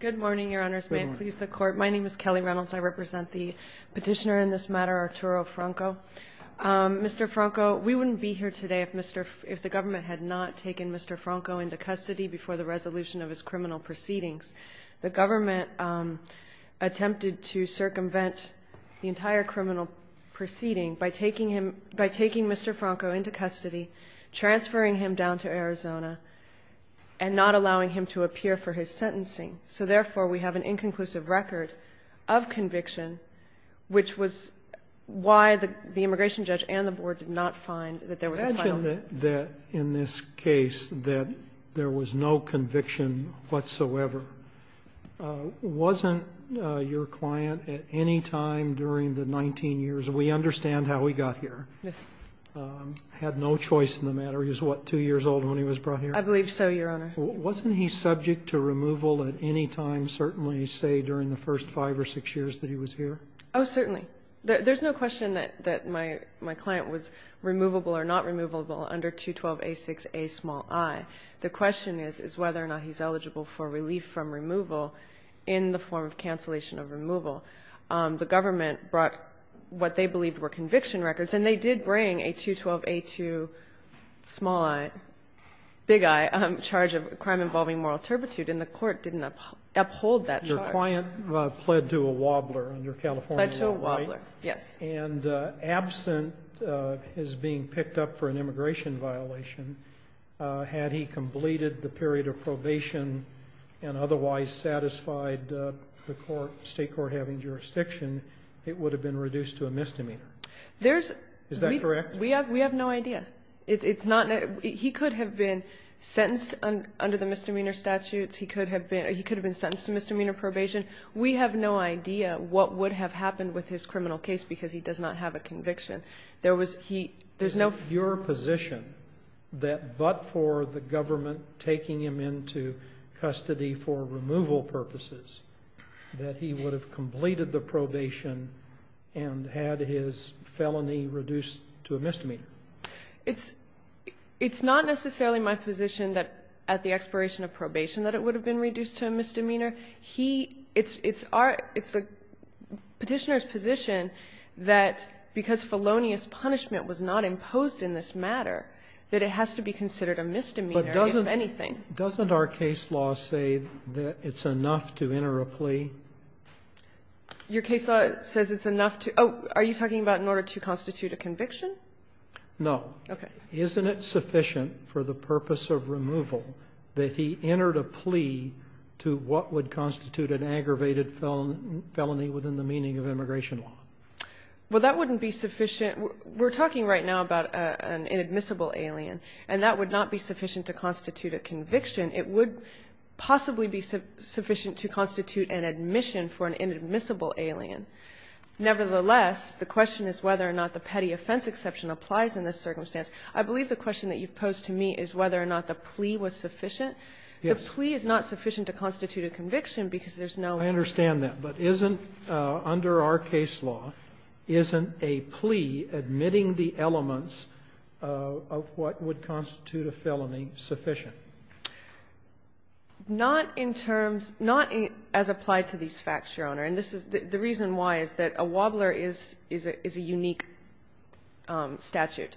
Good morning, Your Honors. May it please the Court. My name is Kelly Reynolds. I represent the petitioner in this matter, Arturo Franco. Mr. Franco, we wouldn't be here today if the government had not taken Mr. Franco into custody before the resolution of his criminal proceedings. The government attempted to circumvent the entire criminal proceeding by taking Mr. Franco into custody, transferring him down to Arizona, and not allowing him to appear for his sentencing. So therefore, we have an inconclusive record of conviction, which was why the immigration judge and the board did not find that there was a file on him. Imagine that, in this case, that there was no conviction whatsoever. Wasn't your client at any time during the 19 years – we understand how he got here – had no choice in the matter? He was, what, 2 years old when he was brought here? I believe so, Your Honor. Wasn't he subject to removal at any time, certainly, say, during the first 5 or 6 years that he was here? Oh, certainly. There's no question that my client was removable or not removable under 212a6a small i. The question is whether or not he's eligible for relief from removal in the form of cancellation of removal. The government brought what they believed were conviction records, and they did bring a 212a2 small i – big i – charge of crime involving moral turpitude, and the court didn't uphold that charge. Your client pled to a wobbler under California law, right? Pled to a wobbler, yes. And absent his being picked up for an immigration violation, had he completed the period of probation and otherwise satisfied the state court having jurisdiction, it would have been reduced to a misdemeanor. There's – Is that correct? We have no idea. It's not – he could have been sentenced under the misdemeanor statutes. He could have been sentenced to misdemeanor probation. We have no idea what would have happened with his criminal case because he does not have a conviction. There was – he – there's no – It's not necessarily my position that, at the expiration of probation, that it would have been reduced to a misdemeanor. He – it's our – it's the Petitioner's position that because felonious punishment that it has to be considered a misdemeanor, if anything. But doesn't our case law say that it's enough to enter a plea? Your case law says it's enough to – oh, are you talking about in order to constitute a conviction? No. Okay. Isn't it sufficient for the purpose of removal that he entered a plea to what would constitute an aggravated felony within the meaning of immigration law? Well, that wouldn't be sufficient. We're talking right now about an inadmissible alien, and that would not be sufficient to constitute a conviction. It would possibly be sufficient to constitute an admission for an inadmissible alien. Nevertheless, the question is whether or not the petty offense exception applies in this circumstance. I believe the question that you've posed to me is whether or not the plea was sufficient. The plea is not sufficient to constitute a conviction because there's no – Not in terms – not as applied to these facts, Your Honor. And this is – the reason why is that a wobbler is a unique statute.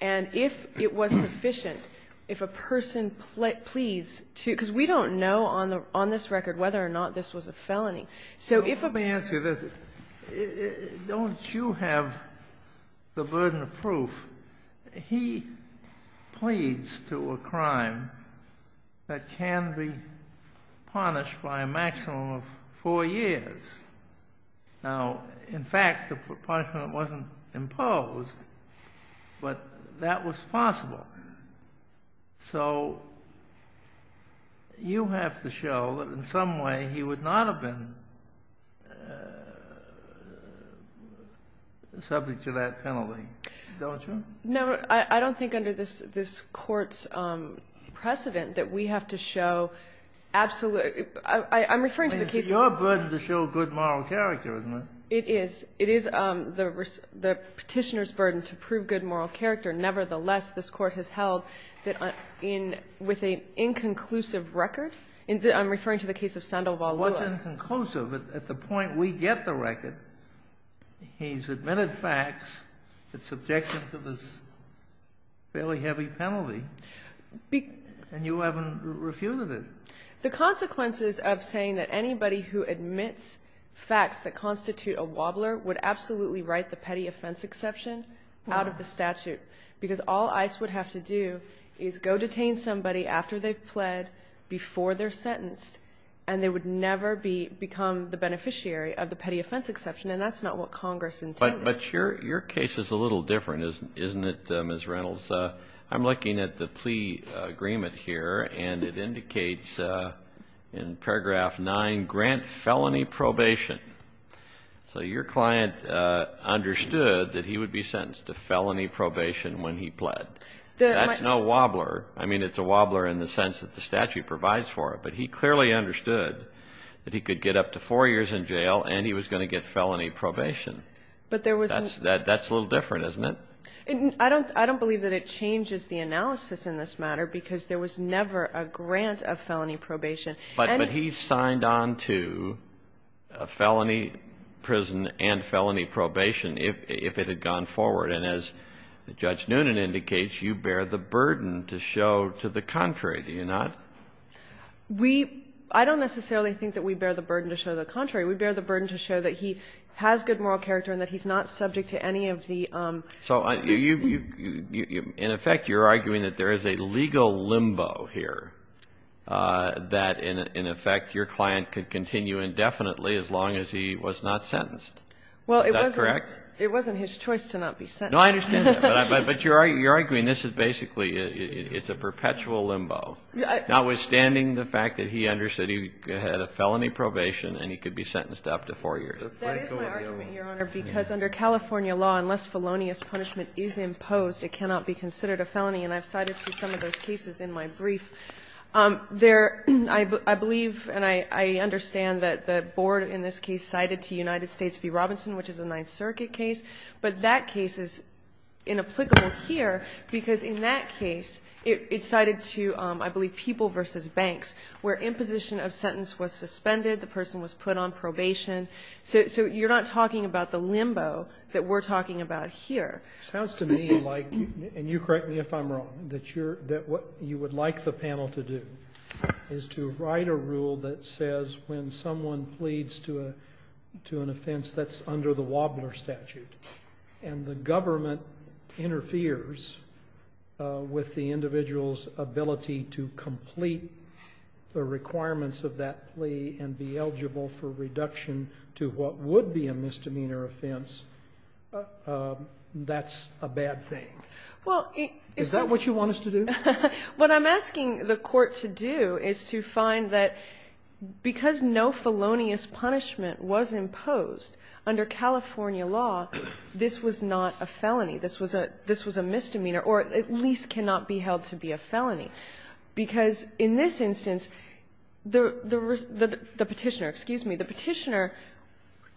And if it was sufficient, if a person pleads to – because we don't know on this record whether or not this was a felony. So if a person – Let me answer this. Don't you have the burden of proof? He pleads to a crime that can be punished by a maximum of four years. Now, in fact, the punishment wasn't imposed, but that was possible. So you have to show that in some way he would not have been subject to that penalty, don't you? No. I don't think under this Court's precedent that we have to show absolute – I'm referring to the case – I mean, it's your burden to show good moral character, isn't it? It is. It is the Petitioner's burden to prove good moral character. Nevertheless, this Court has held that in – with an inconclusive record – I'm referring to the case of Sandoval. Well, it's inconclusive. At the point we get the record, he's admitted facts that subject him to this fairly heavy penalty, and you haven't refuted it. The consequences of saying that anybody who admits facts that constitute a wobbler would absolutely write the petty offense exception out of the statute, because all ICE would have to do is go detain somebody after they've pled before they're sentenced, and they would never become the beneficiary of the petty offense exception, and that's not what Congress intended. But your case is a little different, isn't it, Ms. Reynolds? I'm looking at the plea agreement here, and it indicates in paragraph 9, grant felony probation. So your client understood that he would be sentenced to felony probation when he pled. That's no wobbler. I mean, it's a wobbler in the sense that the statute provides for it, but he clearly understood that he could get up to four years in jail and he was going to get felony probation. But there was – That's a little different, isn't it? I don't believe that it changes the analysis in this matter, because there was never a grant of felony probation. But he signed on to felony prison and felony probation if it had gone forward, and as Judge Noonan indicates, you bear the burden to show to the contrary, do you not? We – I don't necessarily think that we bear the burden to show the contrary. We bear the burden to show that he has good moral character and that he's not subject to any of the – So you – in effect, you're arguing that there is a legal limbo here, that in effect your client could continue indefinitely as long as he was not sentenced. Is that correct? Well, it wasn't his choice to not be sentenced. No, I understand that. But you're arguing this is basically – it's a perpetual limbo, notwithstanding the fact that he understood he had a felony probation and he could be sentenced to up to four years. That is my argument, Your Honor, because under California law, unless felonious punishment is imposed, it cannot be considered a felony. And I've cited some of those cases in my brief. There – I believe and I understand that the board in this case cited to United States v. Robinson, which is a Ninth Circuit case. But that case is inapplicable here because in that case it's cited to, I believe, people versus banks, where imposition of sentence was suspended, the person was put on probation. So you're not talking about the limbo that we're talking about here. It sounds to me like – and you correct me if I'm wrong – that what you would like the panel to do is to write a rule that says when someone pleads to an offense that's under the Wobbler statute, and the government interferes with the individual's that plea and be eligible for reduction to what would be a misdemeanor offense, that's a bad thing. Is that what you want us to do? What I'm asking the Court to do is to find that because no felonious punishment was imposed under California law, this was not a felony. This was a misdemeanor or at least cannot be held to be a felony. Because in this instance, the Petitioner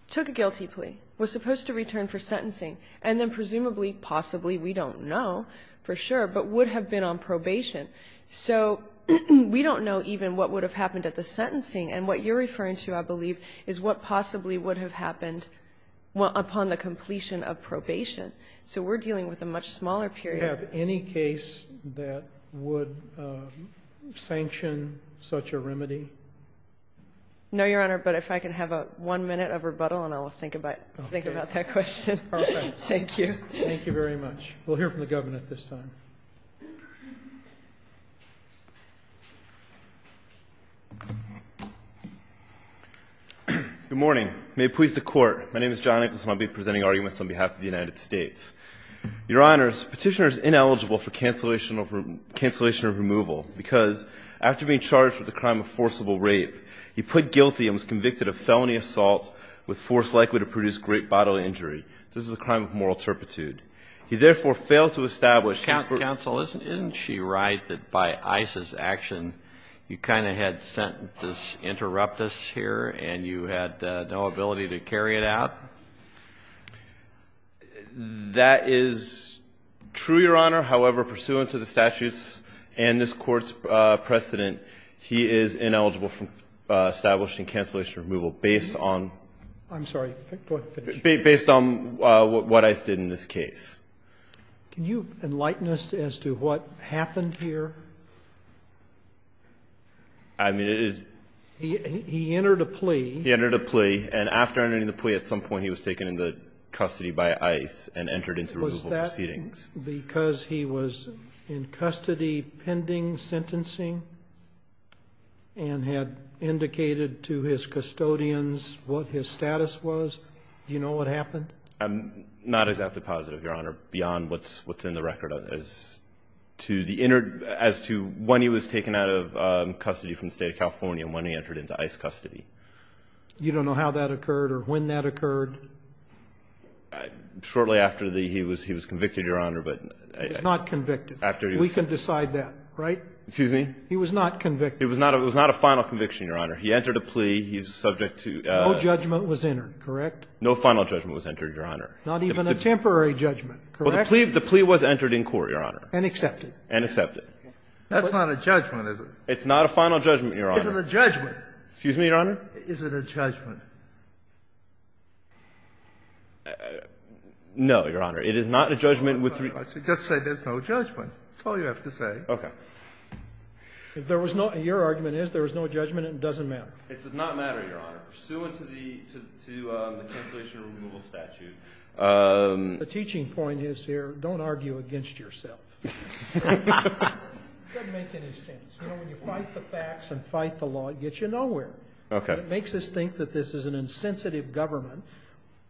took a guilty plea, was supposed to return for sentencing, and then presumably, possibly, we don't know for sure, but would have been on probation. So we don't know even what would have happened at the sentencing. And what you're referring to, I believe, is what possibly would have happened upon the completion of probation. So we're dealing with a much smaller period. Do you have any case that would sanction such a remedy? No, Your Honor, but if I can have one minute of rebuttal and I'll think about that question. Thank you. Thank you very much. We'll hear from the Governor at this time. Good morning. May it please the Court. My name is John Nicholson. I'll be presenting arguments on behalf of the United States. Your Honors, Petitioner is ineligible for cancellation of removal because after being charged with a crime of forcible rape, he pled guilty and was convicted of felony assault with force likely to produce great bodily injury. This is a crime of moral turpitude. He therefore failed to establish the- Counsel, isn't she right that by ICE's action, you kind of had sentences interrupt us here and you had no ability to carry it out? That is true, Your Honor. However, pursuant to the statutes and this Court's precedent, he is ineligible for establishing cancellation of removal based on- I'm sorry. Go ahead and finish. Based on what ICE did in this case. Can you enlighten us as to what happened here? I mean, it is- He entered a plea. He entered a plea. And after entering the plea, at some point he was taken into custody by ICE and entered into removal proceedings. Was that because he was in custody pending sentencing and had indicated to his custodians what his status was? Do you know what happened? I'm not exactly positive, Your Honor, beyond what's in the record as to when he was You don't know how that occurred or when that occurred? Shortly after he was convicted, Your Honor, but- He was not convicted. After he was- We can decide that, right? Excuse me? He was not convicted. It was not a final conviction, Your Honor. He entered a plea. He was subject to- No judgment was entered, correct? No final judgment was entered, Your Honor. Not even a temporary judgment, correct? The plea was entered in court, Your Honor. And accepted. That's not a judgment, is it? It's not a final judgment, Your Honor. Is it a judgment? Excuse me, Your Honor? Is it a judgment? No, Your Honor. It is not a judgment with- Just say there's no judgment. That's all you have to say. Okay. If there was no- Your argument is there was no judgment and it doesn't matter. It does not matter, Your Honor, pursuant to the cancellation removal statute. The teaching point is here, don't argue against yourself. It doesn't make any sense. You know, when you fight the facts and fight the law, it gets you nowhere. Okay. It makes us think that this is an insensitive government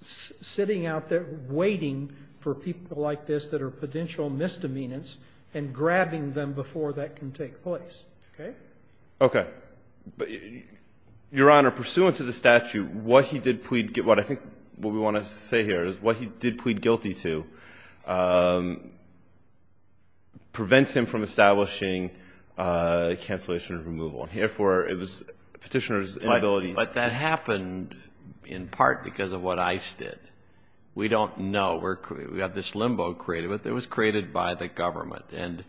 sitting out there waiting for people like this that are potential misdemeanors and grabbing them before that can take place. Okay? Okay. Your Honor, pursuant to the statute, what he did plead- I think what we want to say here is what he did plead guilty to prevents him from establishing cancellation removal. And, therefore, it was petitioner's inability to- But that happened in part because of what ICE did. We don't know. We have this limbo created. But it was created by the government. And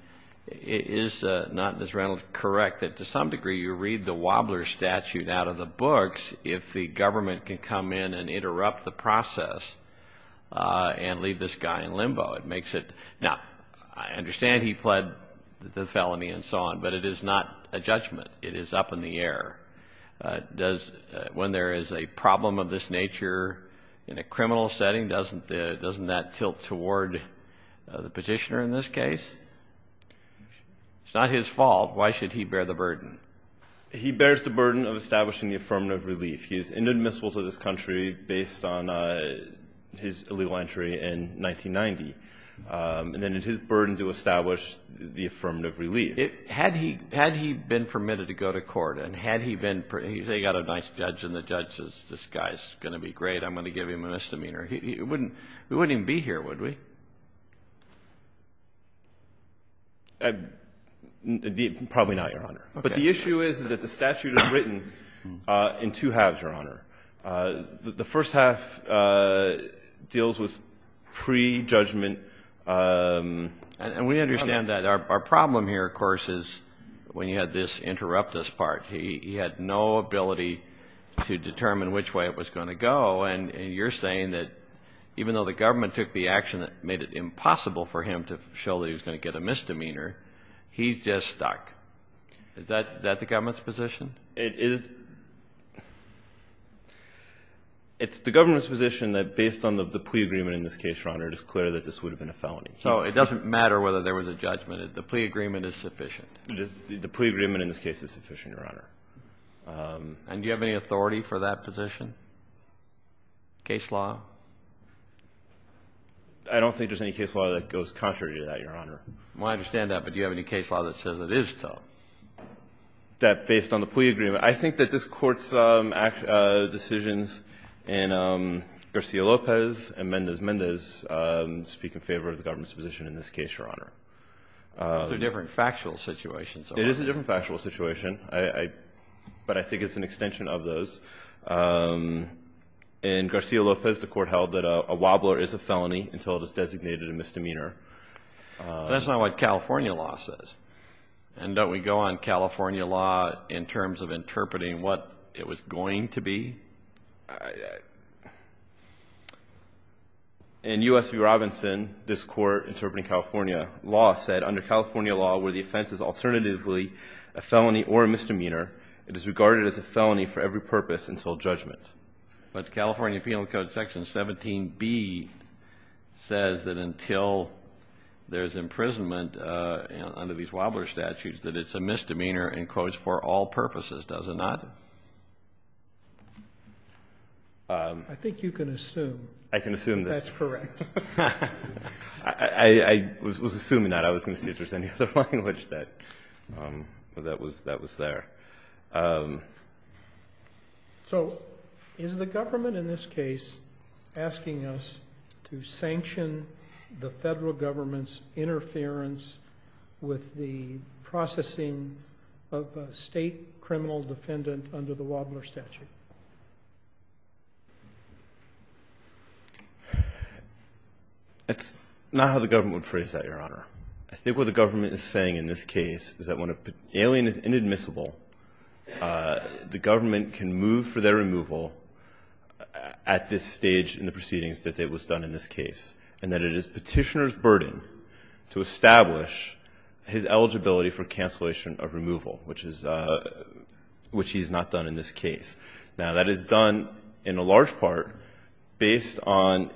is not Ms. Reynolds correct that to some degree you read the Wobbler statute out of the books if the government can come in and interrupt the process and leave this guy in limbo? It makes it- Now, I understand he pled the felony and so on. But it is not a judgment. It is up in the air. When there is a problem of this nature in a criminal setting, doesn't that tilt toward the petitioner in this case? It's not his fault. Why should he bear the burden? He bears the burden of establishing the affirmative relief. He's inadmissible to this country based on his illegal entry in 1990. And then it's his burden to establish the affirmative relief. Had he been permitted to go to court and had he been- You say you've got a nice judge and the judge says, this guy's going to be great, I'm going to give him a misdemeanor. We wouldn't even be here, would we? Probably not, Your Honor. But the issue is that the statute is written in two halves, Your Honor. The first half deals with pre-judgment- And we understand that. Our problem here, of course, is when you had this interruptus part, he had no ability to determine which way it was going to go. And you're saying that even though the government took the action that made it impossible for him to show that he was going to get a misdemeanor, he's just stuck. Is that the government's position? It is. It's the government's position that based on the plea agreement in this case, Your Honor, it is clear that this would have been a felony. So it doesn't matter whether there was a judgment. The plea agreement is sufficient. The plea agreement in this case is sufficient, Your Honor. And do you have any authority for that position? Case law? I don't think there's any case law that goes contrary to that, Your Honor. I understand that, but do you have any case law that says it is so? That based on the plea agreement. I think that this Court's decisions in Garcia-Lopez and Mendez-Mendez speak in favor of the government's position in this case, Your Honor. It's a different factual situation. It is a different factual situation, but I think it's an extension of those. In Garcia-Lopez, the Court held that a wobbler is a felony until it is designated a misdemeanor. That's not what California law says. And don't we go on California law in terms of interpreting what it was going to be? In U.S. v. Robinson, this Court interpreting California law said, under California law where the offense is alternatively a felony or a misdemeanor, it is regarded as a felony for every purpose until judgment. But California Penal Code Section 17b says that until there's imprisonment under these wobbler statutes that it's a misdemeanor, in quotes, for all purposes. Does it not? I think you can assume. I can assume that. That's correct. I was assuming that. I was going to see if there was any other language that was there. So is the government in this case asking us to sanction the federal government's interference with the processing of a state criminal defendant under the wobbler statute? That's not how the government would phrase that, Your Honor. I think what the government is saying in this case is that when an alien is inadmissible, the government can move for their removal at this stage in the proceedings that it was done in this case, and that it is Petitioner's burden to establish his eligibility for cancellation of removal, which he has not done in this case. Now, that is done in a large part based on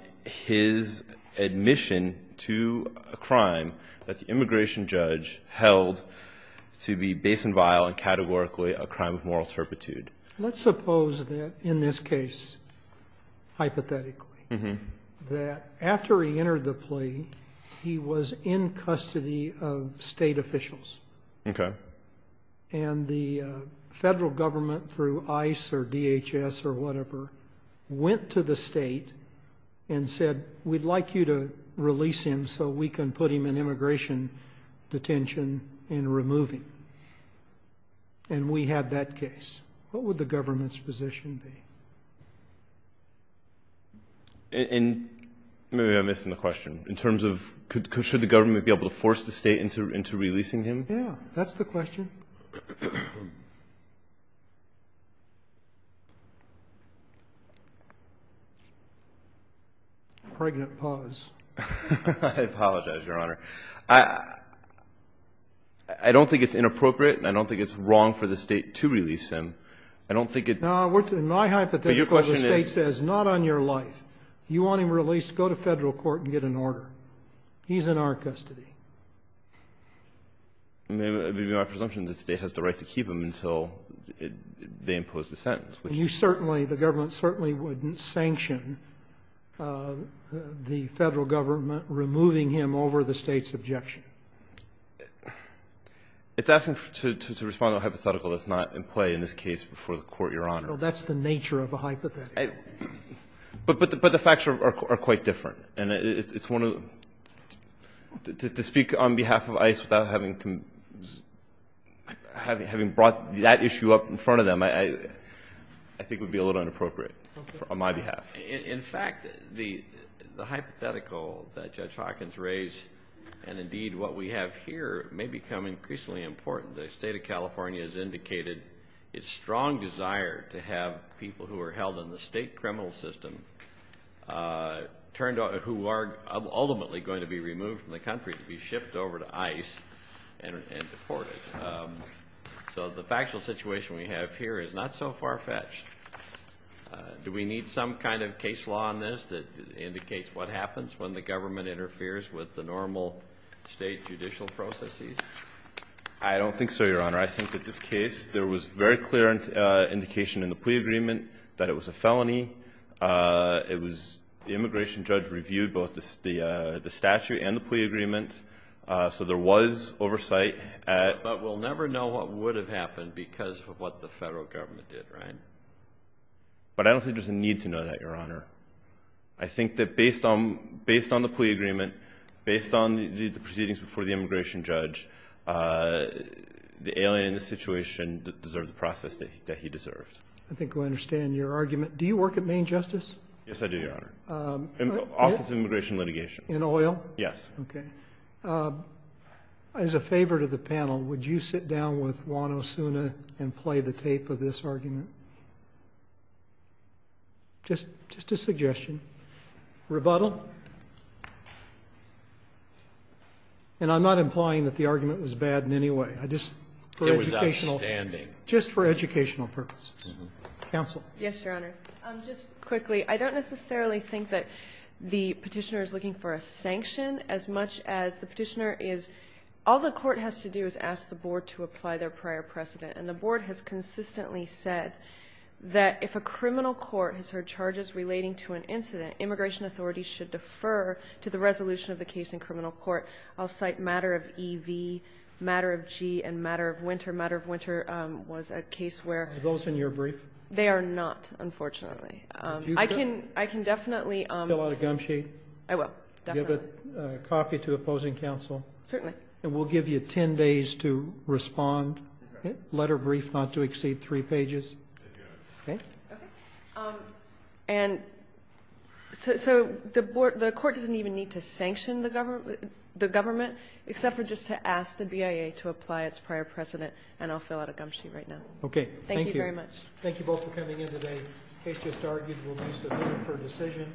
his admission to a crime that the immigration judge held to be base and vile and categorically a crime of moral turpitude. Let's suppose that in this case, hypothetically, that after he entered the plea, he was in custody of state officials. Okay. And the federal government, through ICE or DHS or whatever, went to the state and said, we'd like you to release him so we can put him in immigration detention and remove him. And we had that case. What would the government's position be? And maybe I'm missing the question. In terms of should the government be able to force the state into releasing him? Yeah, that's the question. Pregnant pause. I apologize, Your Honor. I don't think it's inappropriate and I don't think it's wrong for the state to release him. I don't think it ---- No, in my hypothetical, the state says not on your life. You want him released, go to Federal court and get an order. He's in our custody. It would be my presumption the state has the right to keep him until they impose the sentence. And you certainly, the government certainly wouldn't sanction the Federal government removing him over the state's objection. It's asking to respond to a hypothetical that's not in play in this case before the Court, Your Honor. Well, that's the nature of a hypothetical. But the facts are quite different. And to speak on behalf of ICE without having brought that issue up in front of them, I think would be a little inappropriate on my behalf. In fact, the hypothetical that Judge Hawkins raised, and indeed what we have here, may become increasingly important. The State of California has indicated its strong desire to have people who are held in the state criminal system who are ultimately going to be removed from the country to be shipped over to ICE and deported. So the factual situation we have here is not so far-fetched. Do we need some kind of case law on this that indicates what happens when the government interferes with the normal state judicial processes? I don't think so, Your Honor. I think that this case, there was very clear indication in the plea agreement that it was a felony. It was the immigration judge reviewed both the statute and the plea agreement, so there was oversight. But we'll never know what would have happened because of what the federal government did, right? But I don't think there's a need to know that, Your Honor. I think that based on the plea agreement, based on the proceedings before the immigration judge, the alien in the situation deserved the process that he deserved. I think we understand your argument. Do you work at Maine Justice? Yes, I do, Your Honor. Office of Immigration Litigation. In oil? Yes. Okay. As a favor to the panel, would you sit down with Juan Osuna and play the tape of this argument? Just a suggestion. Rebuttal? And I'm not implying that the argument was bad in any way. I just for educational. It was outstanding. Just for educational purposes. Counsel? Yes, Your Honor. Just quickly, I don't necessarily think that the Petitioner is looking for a sanction as much as the Petitioner is all the court has to do is ask the board to apply their prior precedent. And the board has consistently said that if a criminal court has heard charges relating to an incident, immigration authorities should defer to the resolution of the case in criminal court. I'll cite Matter of E.V., Matter of G., and Matter of Winter. Matter of Winter was a case where they are not, unfortunately. I can definitely fill out a gum sheet. I will. Definitely. Give a copy to opposing counsel. Certainly. And we'll give you ten days to respond, letter brief not to exceed three pages. Okay. And so the court doesn't even need to sanction the government, except for just to ask the BIA to apply its prior precedent, and I'll fill out a gum sheet right now. Okay. Thank you very much. Thank you both for coming in today. The case just argued will be submitted for decision.